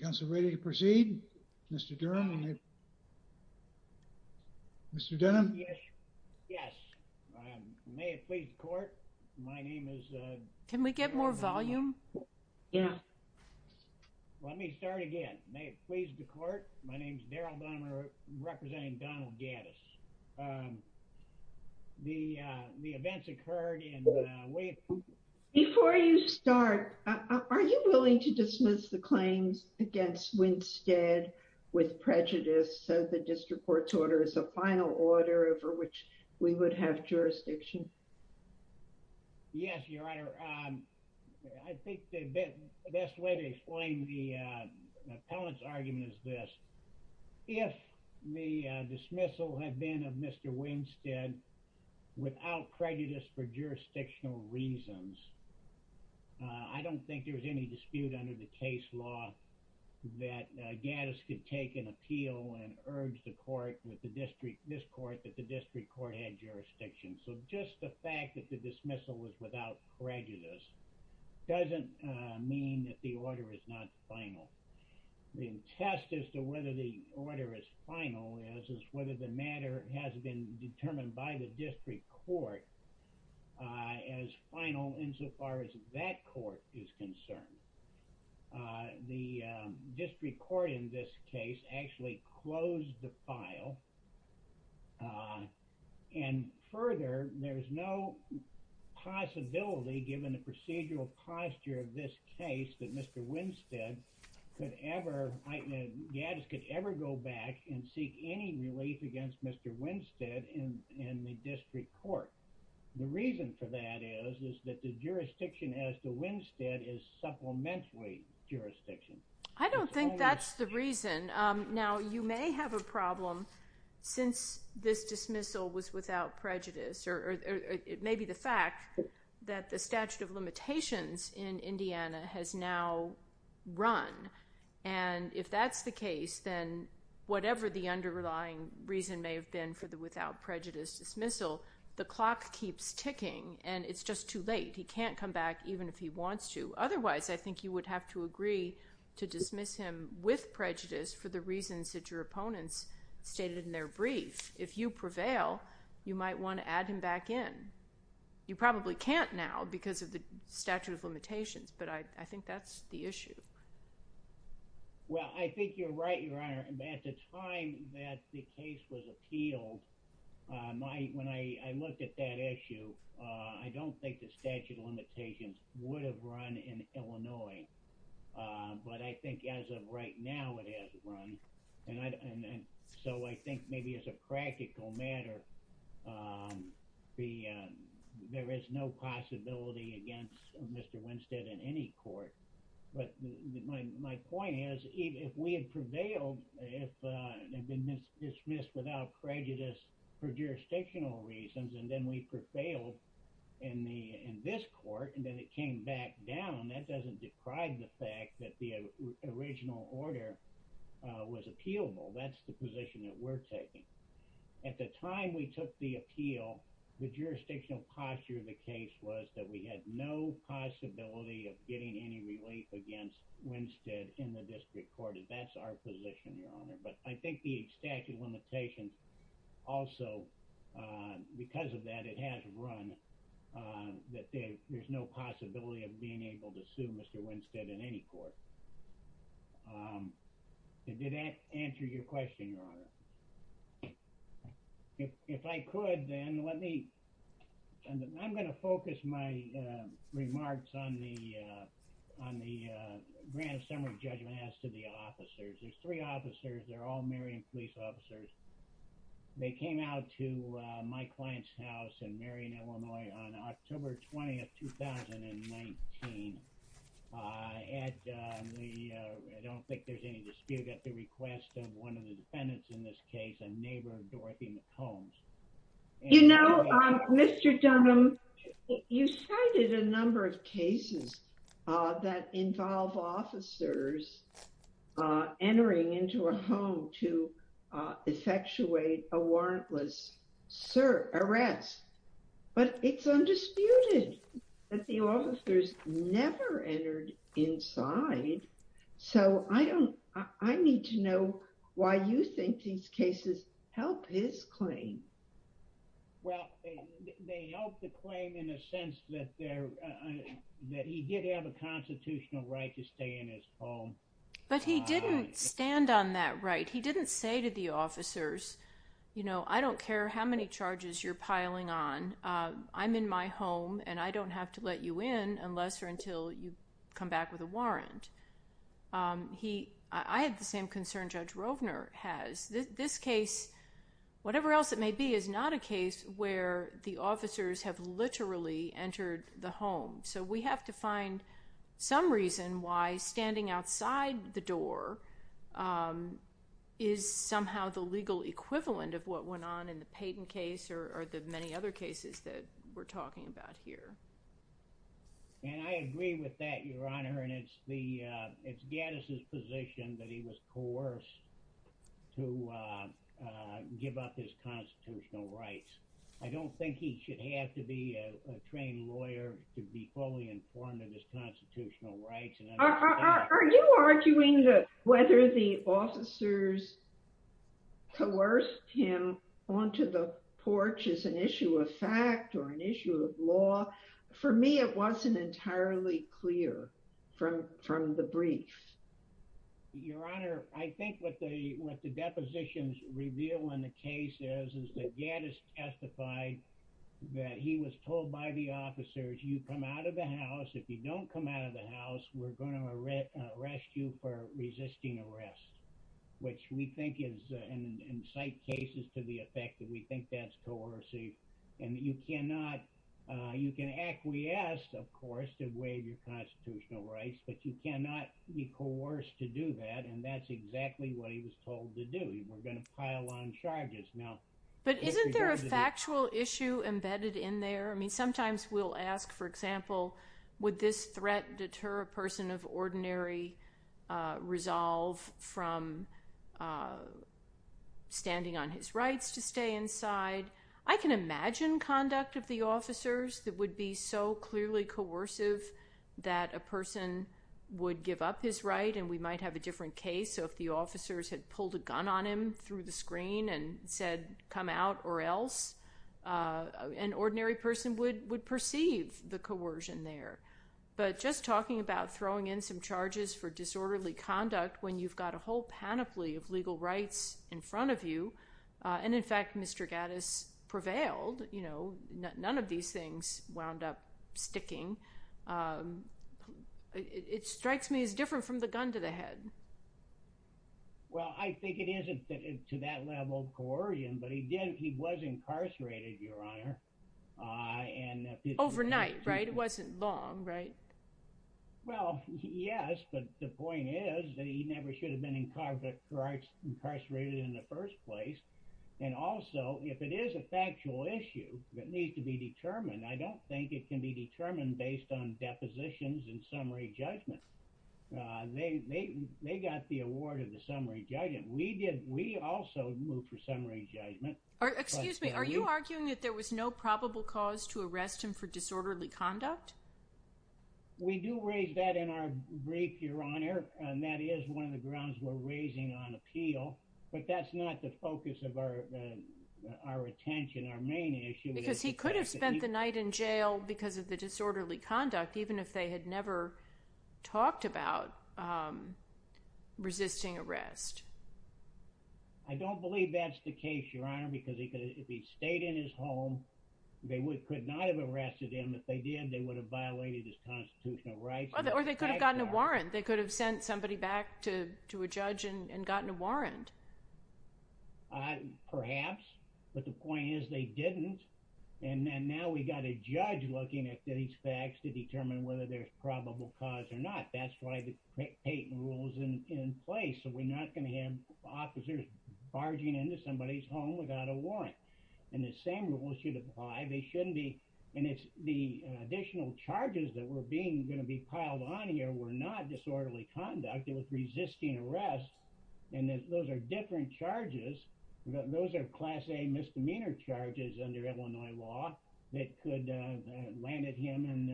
Council ready to proceed? Mr. Durham? Mr. Denham? Yes. Yes. May it please the court. My name is... Can we get more volume? Yeah. Let me start again. May it please the court. My name is Daryl Dahmer representing Donald Gaddis. The events occurred in... Before you start, are you willing to dismiss the claims against Winstead with prejudice so the district court's order is a final order over which we would have jurisdiction? Yes, your honor. I think the best way to explain the appellant's argument is this. If the dismissal had been of Mr. Winstead without prejudice for case law that Gaddis could take an appeal and urge the court with the district, this court, that the district court had jurisdiction. So just the fact that the dismissal was without prejudice doesn't mean that the order is not final. The test as to whether the order is final is whether the matter has been determined by the district court as final insofar as that court is concerned. The district court in this case actually closed the file and further there's no possibility given the procedural posture of this case that Mr. Winstead could ever... Gaddis could ever go back and seek any relief against Mr. Winstead in the district court. The reason for that is that the jurisdiction as to Winstead is supplementary jurisdiction. I don't think that's the reason. Now you may have a problem since this dismissal was without prejudice or it may be the fact that the statute of limitations in Indiana has now run and if that's the case then whatever the underlying reason may have been for the without prejudice dismissal, the clock keeps ticking and it's just too late. He can't come back even if he wants to. Otherwise, I think you would have to agree to dismiss him with prejudice for the reasons that your opponents stated in their brief. If you prevail, you might want to add him back in. You probably can't now because of the statute of limitations but I think that's the issue. Well, I think you're right, Your Honor. At the time that the case was appealed, when I looked at that issue, I don't think the statute of limitations would have run in Illinois but I think as of right now it has run and so I think maybe as a practical matter, there is no possibility against Mr. Winstead in any court but my point is if we had prevailed, if it had been dismissed without prejudice for jurisdictional reasons and then we prevailed in this court and then it came back down, that doesn't deprive the fact that the appeal, the jurisdictional posture of the case was that we had no possibility of getting any relief against Winstead in the district court. That's our position, Your Honor, but I think the statute of limitations also because of that, it has run that there's no possibility of being able to sue Mr. Winstead in any court. Did that answer your question, Your Honor? If I could then let me, I'm going to focus my remarks on the grant of summary judgment as to the officers. There's three officers, they're all Marion police officers. They came out to my client's house in Marion, Illinois on October 20th, 2019. I don't think there's any dispute at the request of one of the defendants in this case, a neighbor of Dorothy McCombs. You know, Mr. Dunham, you cited a number of cases that involve officers entering into a home to effectuate a warrantless arrest, but it's undisputed that the officers never entered inside, so I need to know why you think these cases help his claim. Well, they help the claim in a sense that he did have a constitutional right to stay in his home. But he didn't stand on that right. He say to the officers, you know, I don't care how many charges you're piling on. I'm in my home and I don't have to let you in unless or until you come back with a warrant. I had the same concern Judge Rovner has. This case, whatever else it may be, is not a case where the officers have literally entered the home. So we have to find some reason why standing outside the door is somehow the legal equivalent of what went on in the Payton case or the many other cases that we're talking about here. And I agree with that, Your Honor, and it's Gaddis' position that he was coerced to give up his constitutional rights. I don't think he should have to be a trained lawyer to be fully informed of his constitutional rights. Are you arguing that whether the officers coerced him onto the porch is an issue of fact or an issue of law? For me, it wasn't entirely clear from the brief. Your Honor, I think what the depositions reveal in the case is that Gaddis testified that he was told by the officers, you come out of the house. If you don't come out of the house, we're going to arrest you for resisting arrest, which we think is, in some cases, to the effect that we think that's coercive. And you cannot, you can acquiesce, of course, to waive your constitutional rights, but you cannot be coerced to do that. And that's exactly what he was told to do. We're going to pile on charges now. But isn't there a factual issue embedded in there? I mean, sometimes we'll ask, for example, would this threat deter a person of ordinary resolve from standing on his rights to stay inside? I can imagine conduct of the officers that would be so clearly coercive that a person would give up his right, and we might have a pulled a gun on him through the screen and said, come out or else. An ordinary person would perceive the coercion there. But just talking about throwing in some charges for disorderly conduct when you've got a whole panoply of legal rights in front of you, and in fact, Mr. Gaddis prevailed, you know, none of these things wound up sticking. It strikes me as different from the gun to the head. Well, I think it isn't to that level of coercion, but he did, he was incarcerated, Your Honor. And overnight, right? It wasn't long, right? Well, yes, but the point is that he never should have been incarcerated in the first place. And also, if it is a factual issue that needs to be determined, I don't think it can be determined based on depositions and summary judgment. They got the award of the summary judgment. We did, we also moved for summary judgment. Excuse me, are you arguing that there was no probable cause to arrest him for disorderly conduct? We do raise that in our brief, Your Honor, and that is one of the grounds we're raising on appeal. But that's not the focus of our attention, our main issue. Because he could have spent the night in jail because of the disorderly conduct, even if they had never talked about resisting arrest. I don't believe that's the case, Your Honor, because if he stayed in his home, they could not have arrested him. If they did, they would have violated his constitutional rights. Or they could have gotten a warrant. They could have sent somebody back to a judge and gotten a warrant. And now we got a judge looking at these facts to determine whether there's probable cause or not. That's why the Peyton rule is in place. So we're not going to have officers barging into somebody's home without a warrant. And the same rule should apply. They shouldn't be, and it's the additional charges that were being going to be piled on here were not disorderly conduct. It was resisting arrest. And those are different charges. Those are class A misdemeanor charges under Illinois law that could have landed him,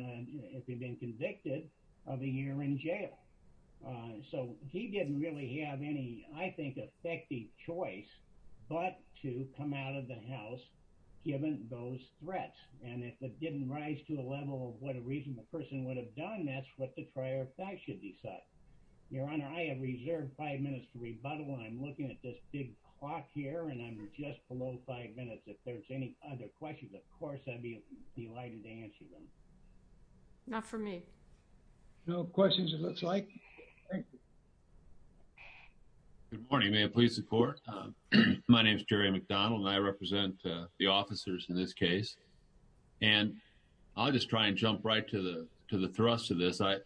if he'd been convicted, of a year in jail. So he didn't really have any, I think, effective choice but to come out of the house, given those threats. And if it didn't rise to a level of what a reasonable person would have done, that's what the trial should decide. Your Honor, I have reserved five minutes to rebuttal. I'm at this big clock here, and I'm just below five minutes. If there's any other questions, of course, I'd be delighted to answer them. Not for me. No questions, it looks like. Good morning. May I please support? My name is Jerry McDonald, and I represent the officers in this case. And I'll just try and jump right to the thrust of this. I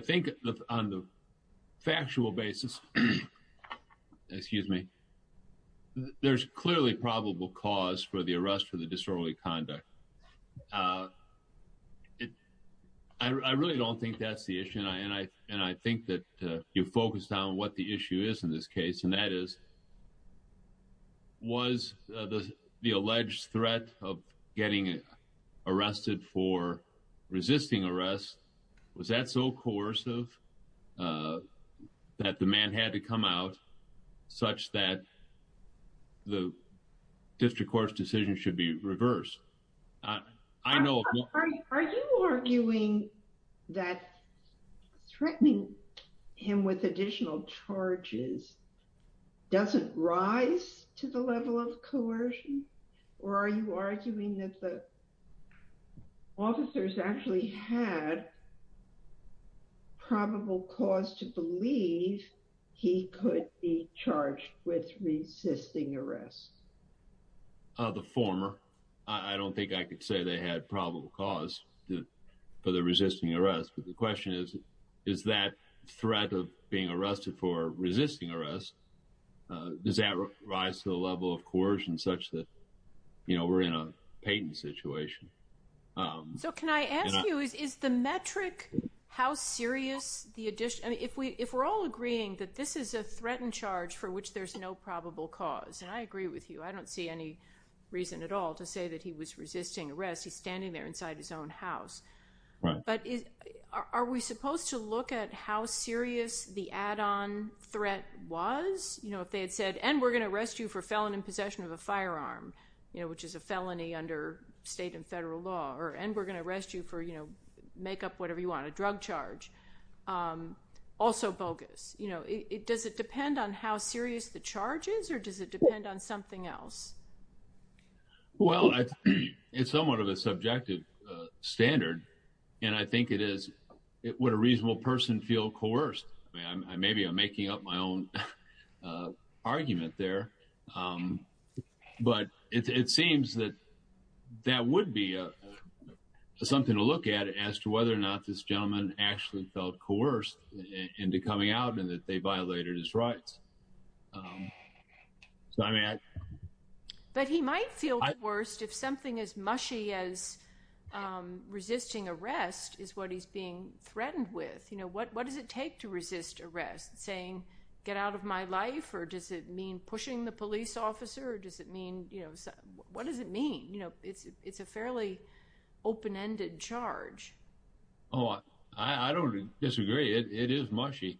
think on the factual basis, excuse me, there's clearly probable cause for the arrest for the disorderly conduct. I really don't think that's the issue. And I think that you focused on what the issue is in this case. And that is, was the alleged threat of getting arrested for resisting arrest, was that so coercive that the man had to come out such that the district court's decision should be reversed? I know. Are you arguing that threatening him with additional charges doesn't rise to the level of coercion? Or are you arguing that the man had probable cause to believe he could be charged with resisting arrest? The former. I don't think I could say they had probable cause for the resisting arrest. But the question is, is that threat of being arrested for resisting arrest, does that rise to the level of coercion such that, you know, we're in a patent situation? So can I ask you, is the metric, how serious the addition? If we're all agreeing that this is a threatened charge for which there's no probable cause, and I agree with you, I don't see any reason at all to say that he was resisting arrest. He's standing there inside his own house. But are we supposed to look at how serious the add-on threat was? You know, if they had said, and we're going to arrest you for felon in possession of a firearm, you know, which is a law, and we're going to arrest you for, you know, make up whatever you want, a drug charge, also bogus. You know, does it depend on how serious the charge is, or does it depend on something else? Well, it's somewhat of a subjective standard. And I think it is, would a reasonable person feel coerced? Maybe I'm making up my own argument there. But it seems that that would be something to look at as to whether or not this gentleman actually felt coerced into coming out and that they violated his rights. But he might feel coerced if something as mushy as resisting arrest is what he's being threatened with. You know, what does it take to resist arrest? Saying, get out of my life, or does it mean pushing the police officer? Or does it mean, you know, what does it mean? You know, it's a fairly open-ended charge. Oh, I don't disagree. It is mushy.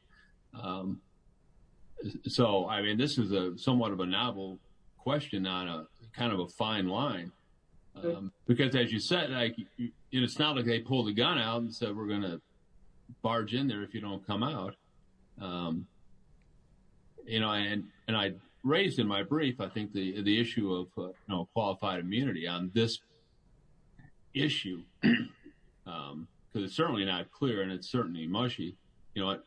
So, I mean, this is somewhat of a novel question on a kind of a fine line. Because as you said, it's not like they pulled the gun out and said, we're going to barge in there if you don't come out. You know, and I raised in my brief, I think the issue of qualified immunity on this issue, because it's certainly not clear, and it's certainly mushy. You know,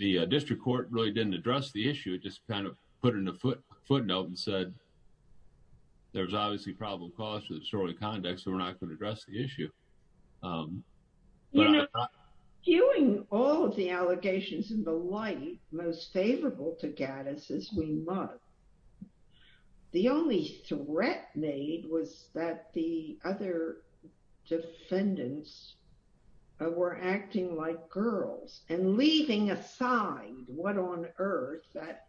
the district court really didn't address the issue. It just kind of put in a footnote and said, there's obviously probable cause for the disorderly conduct, so we're not going to address the issue. You know, viewing all of the allegations in the light most favorable to Gaddis as we might, the only threat made was that the other defendants were acting like girls and leaving aside what on earth that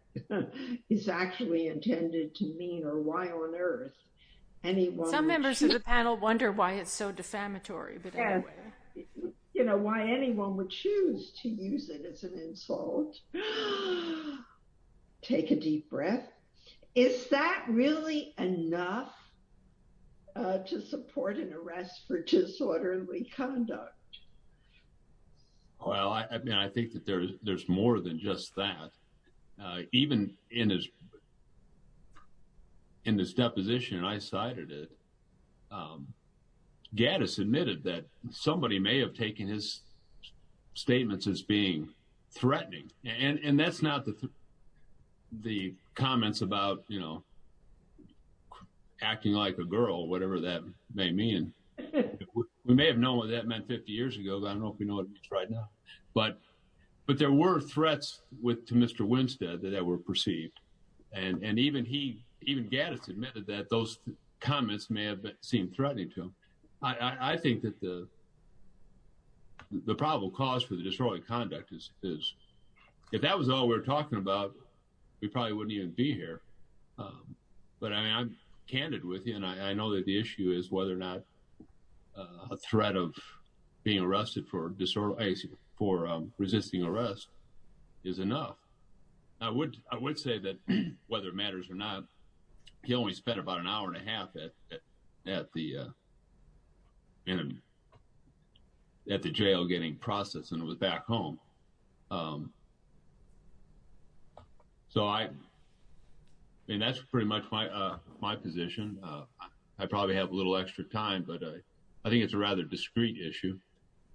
is actually intended to mean or why on earth anyone— Some members of the panel wonder why it's so defamatory. You know, why anyone would choose to use it as an insult. Take a deep breath. Is that really enough to support an arrest for disorderly conduct? Well, I mean, I think that there's more than just that. Even in this in this deposition, and I cited it, Gaddis admitted that somebody may have taken his statements as being threatening, and that's not the comments about, you know, acting like a girl, whatever that may mean. We may have known what that meant 50 years ago, but I don't know if we know what it means right now. But there were that were perceived, and even he, even Gaddis admitted that those comments may have been seen threatening to him. I think that the probable cause for the disorderly conduct is, if that was all we're talking about, we probably wouldn't even be here. But I mean, I'm candid with you, and I know that the issue is whether or not a threat of being arrested for resisting arrest is enough. I would say that whether it matters or not, he only spent about an hour and a half at the jail getting processed, and it was back home. So I mean, that's pretty much my position. I probably have a little extra time, but I think it's a rather discreet issue.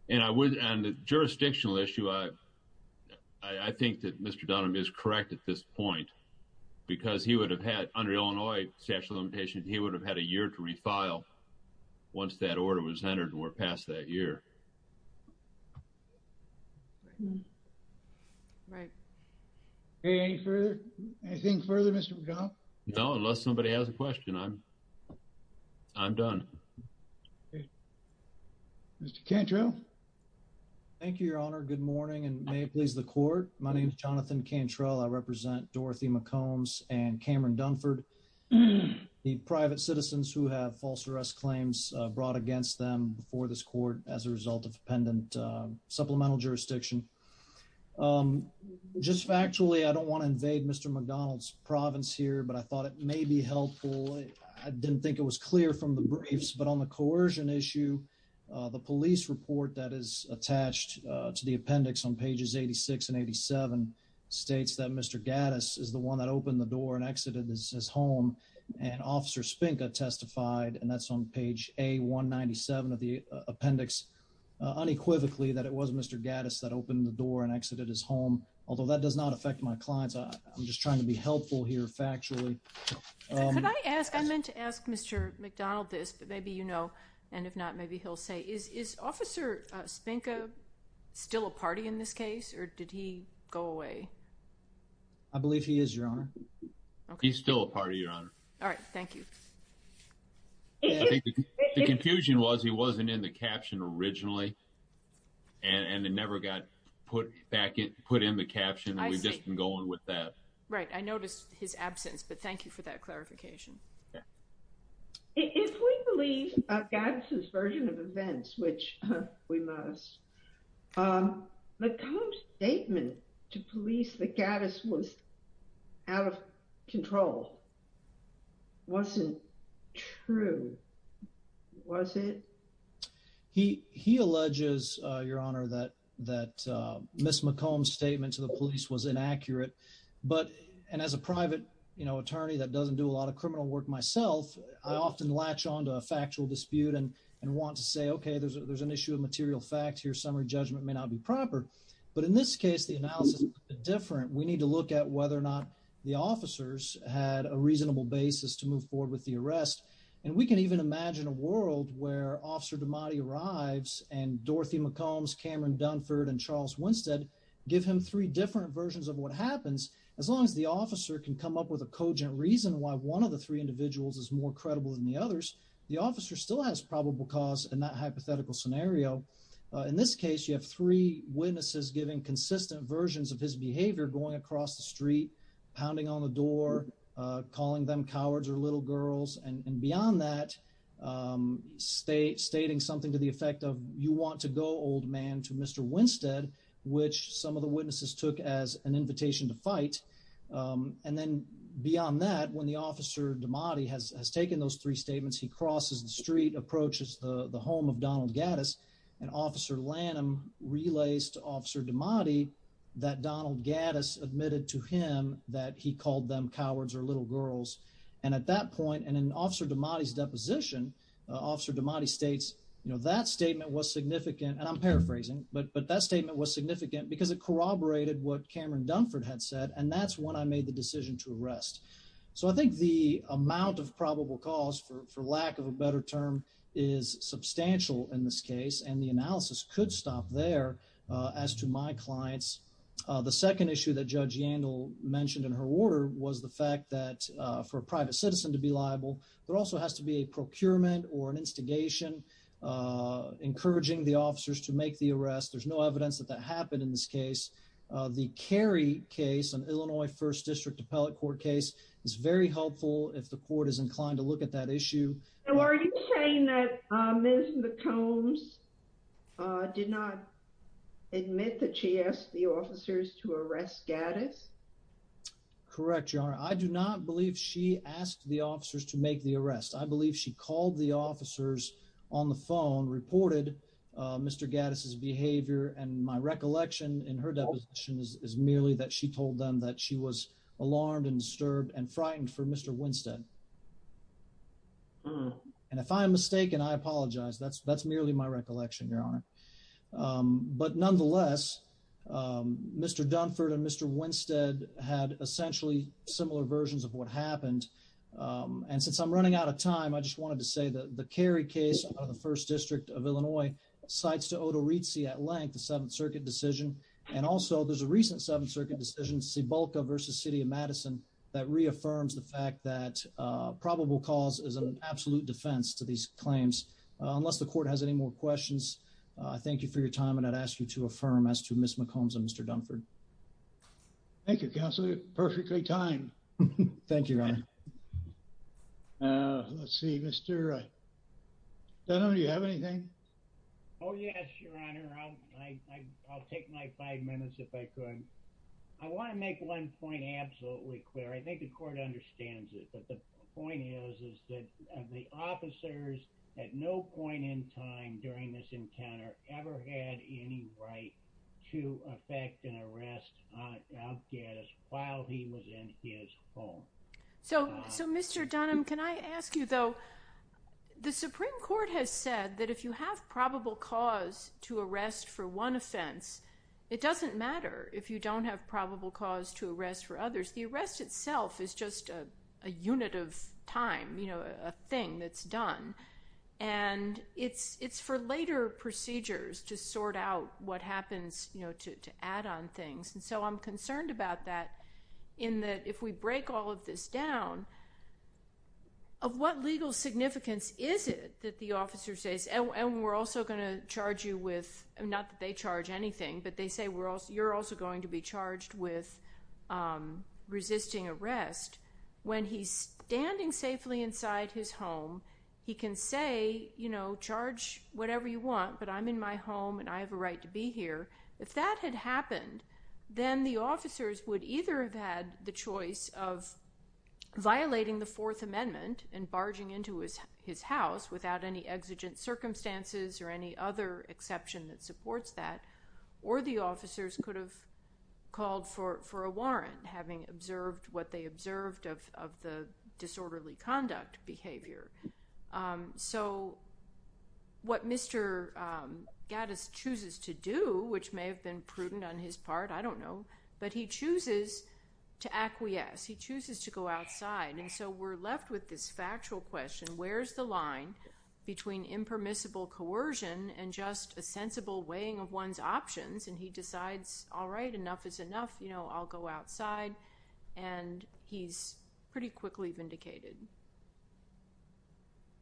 And I would, on the jurisdictional issue, I think that Mr. Dunham is correct at this point, because he would have had, under Illinois statute of limitations, he would have had a year to refile once that order was entered, and we're past that year. Right. Any further? Anything further, Mr. McDonough? No, unless somebody has a question, I'm done. Mr. Cantrell? Thank you, Your Honor. Good morning, and may it please the court. My name is Jonathan Cantrell. I represent Dorothy McCombs and Cameron Dunford, the private citizens who have false arrest claims brought against them before this court as a result of pendent supplemental jurisdiction. Just factually, I don't want to invade Mr. McDonough's province here, but I thought it may be helpful. I didn't think it was clear from the briefs, but on the coercion issue, the police report that is attached to the appendix on pages 86 and 87 states that Mr. Gattis is the one that opened the door and exited his home, and Officer Spinka testified, and that's on page A197 of the appendix, unequivocally that it was Mr. Gattis that opened the door and exited his home. Could I ask, I meant to ask Mr. McDonough this, but maybe you know, and if not, maybe he'll say, is Officer Spinka still a party in this case, or did he go away? I believe he is, Your Honor. He's still a party, Your Honor. All right, thank you. The confusion was he wasn't in the caption originally, and it never got put back in, we've just been going with that. Right, I noticed his absence, but thank you for that clarification. If we believe Gattis' version of events, which we must, McComb's statement to police that Gattis was out of control wasn't true, was it? He alleges, Your Honor, that Ms. McComb's statement to the police was inaccurate, and as a private, you know, attorney that doesn't do a lot of criminal work myself, I often latch onto a factual dispute and want to say, okay, there's an issue of material facts, your summary judgment may not be proper, but in this case, the analysis is different. We need to look at whether or not the officers had a reasonable basis to move forward with the arrest, and we can even imagine a world where Officer DiMatti arrives and Dorothy McCombs, Cameron Dunford, and Charles Winstead give him three different versions of what happens, as long as the officer can come up with a cogent reason why one of the three individuals is more credible than the others, the officer still has probable cause in that hypothetical scenario. In this case, you have three witnesses giving consistent versions of his behavior going across the street, pounding on the door, calling them cowards or little girls, and beyond that, stating something to the effect of, you want to go, old man, to Mr. Winstead, which some of the witnesses took as an invitation to fight, and then beyond that, when the officer DiMatti has taken those three statements, he crosses the street, approaches the home of Donald Gaddis, and Officer that he called them cowards or little girls, and at that point, and in Officer DiMatti's deposition, Officer DiMatti states, you know, that statement was significant, and I'm paraphrasing, but that statement was significant because it corroborated what Cameron Dunford had said, and that's when I made the decision to arrest. So I think the amount of probable cause, for lack of a better term, is substantial in this case, and the analysis could stop there as to my clients. The second issue that Judge Yandel mentioned in her order was the fact that for a private citizen to be liable, there also has to be a procurement or an instigation encouraging the officers to make the arrest. There's no evidence that that happened in this case. The Carey case, an Illinois First District Appellate Court case, is very helpful if the court is inclined to look at that issue. So are you saying that Ms. McCombs did not admit that she asked the officers to arrest Gaddis? Correct, Your Honor. I do not believe she asked the officers to make the arrest. I believe she called the officers on the phone, reported Mr. Gaddis's behavior, and my recollection in her deposition is merely that she told them that she was alarmed and disturbed and frightened for Mr. Winstead. And if I'm mistaken, I apologize. That's merely my recollection, Your Honor. But nonetheless, Mr. Dunford and Mr. Winstead had essentially similar versions of what happened, and since I'm running out of time, I just wanted to say that the Carey case out of the First District of Illinois cites to Odoretzi at length the Seventh Circuit decision, and also there's a recent Seventh Circuit decision, Sebulka v. City of Madison, that reaffirms the fact that probable cause is an absolute defense to these claims. Unless the court has any more questions, I thank you for your time, and I'd ask you to affirm as to Ms. McCombs and Mr. Dunford. Thank you, Counselor. Perfectly timed. Thank you, Your Honor. Let's see, Mr. Dunham, do you have anything? Oh, yes, Your Honor. I'll take my five minutes if I could. I want to make one point absolutely clear. I think the court understands it, but the point is that the officers at no point in time during this encounter ever had any right to affect an arrest on outcasts while he was in his home. So, Mr. Dunham, can I ask you, though, the Supreme Court has said that if you have probable cause to arrest for one offense, it doesn't matter if you don't have probable cause to arrest for others. The arrest itself is just a unit of time, you know, a thing that's done, and it's for later procedures to sort out what happens, you know, to add on things, and so I'm concerned about that in that if we break all of this down, of what legal significance is it that the officer says, and we're also going to charge anything, but they say you're also going to be charged with resisting arrest, when he's standing safely inside his home, he can say, you know, charge whatever you want, but I'm in my home and I have a right to be here. If that had happened, then the officers would either have had the choice of violating the Fourth Amendment and barging into his house without any exigent circumstances or any other exception that supports that, or the officers could have called for a warrant, having observed what they observed of the disorderly conduct behavior. So, what Mr. Gaddis chooses to do, which may have been prudent on his part, I don't know, but he chooses to acquiesce, he chooses to go outside, and so we're left with this factual question, where's the line between impermissible coercion and just a sensible weighing of one's options, and he decides, all right, enough is enough, you know, I'll go outside, and he's pretty quickly vindicated.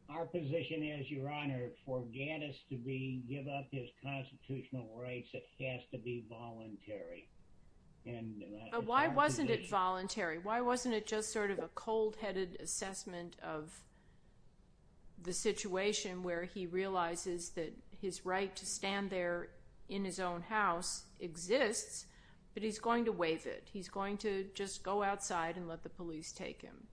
Our position is, Your Honor, for Gaddis to be, give up his constitutional rights, it has to be voluntary. Why wasn't it voluntary? Why wasn't it just sort of a cold-headed assessment of the situation where he realizes that his right to stand there in his own house exists, but he's going to waive it. He's going to just go outside and let the police take him.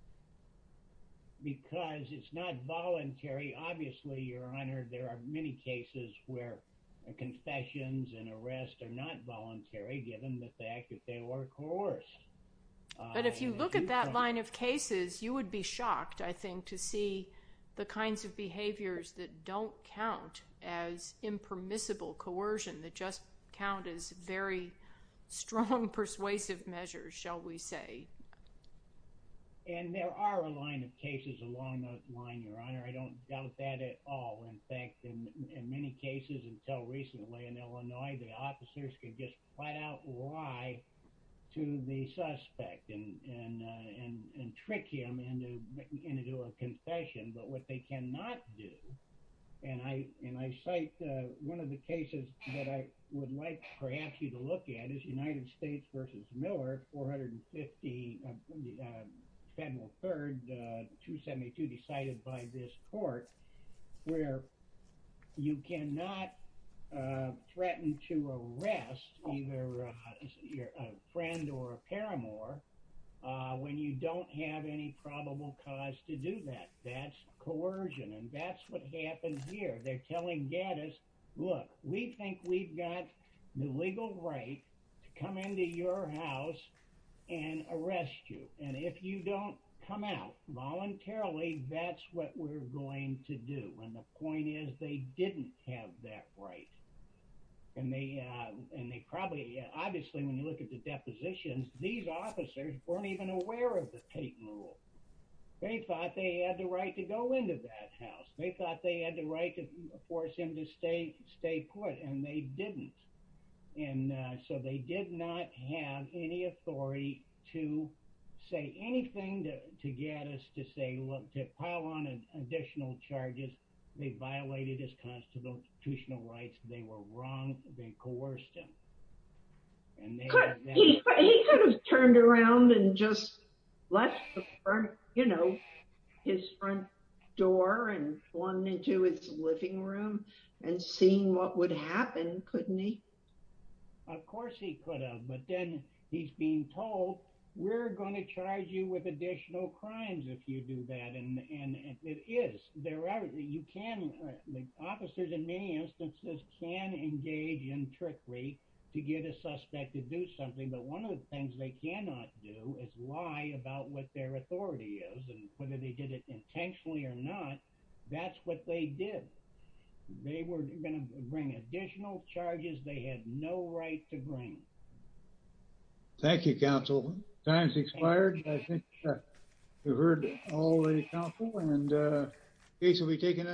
Because it's not voluntary. Obviously, Your Honor, there are many cases where confessions and arrest are not voluntary, given the fact that they were coerced. But if you look at that line of cases, you would be shocked, I think, to see the kinds of behaviors that don't count as impermissible coercion, that just count as very strong persuasive measures, shall we say. And there are a line of cases along those lines, Your Honor. I don't doubt that at all. In fact, in many cases until recently in Illinois, the officers could just point out why to the suspect and trick him into a confession. But what they cannot do, and I cite one of the cases that I would like perhaps you to look at, is United States versus Miller, 450, February 3rd, 272, decided by this court, where you cannot threaten to arrest either a friend or paramour when you don't have any probable cause to do that. That's coercion. And that's what happened here. They're telling Gaddis, look, we think we've got the legal right to come into your house and arrest you. And if you don't come out voluntarily, that's what we're going to do. And the point is, they didn't have that right. And they probably, obviously, when you look at the positions, these officers weren't even aware of the Peyton rule. They thought they had the right to go into that house. They thought they had the right to force him to stay put, and they didn't. And so they did not have any authority to say anything to Gaddis, to say, look, to pile on additional charges. They violated his constitutional rights. They were wrong. They coerced him. And he could have turned around and just left the front, you know, his front door and flung into his living room and seen what would happen, couldn't he? Of course he could have. But then he's being told, we're going to charge you with additional crimes if you do that. And to get a suspect to do something. But one of the things they cannot do is lie about what their authority is, and whether they did it intentionally or not, that's what they did. They were going to bring additional charges they had no right to bring. Thank you, counsel. Time's expired. I think we've heard all the counsel, and case will be taken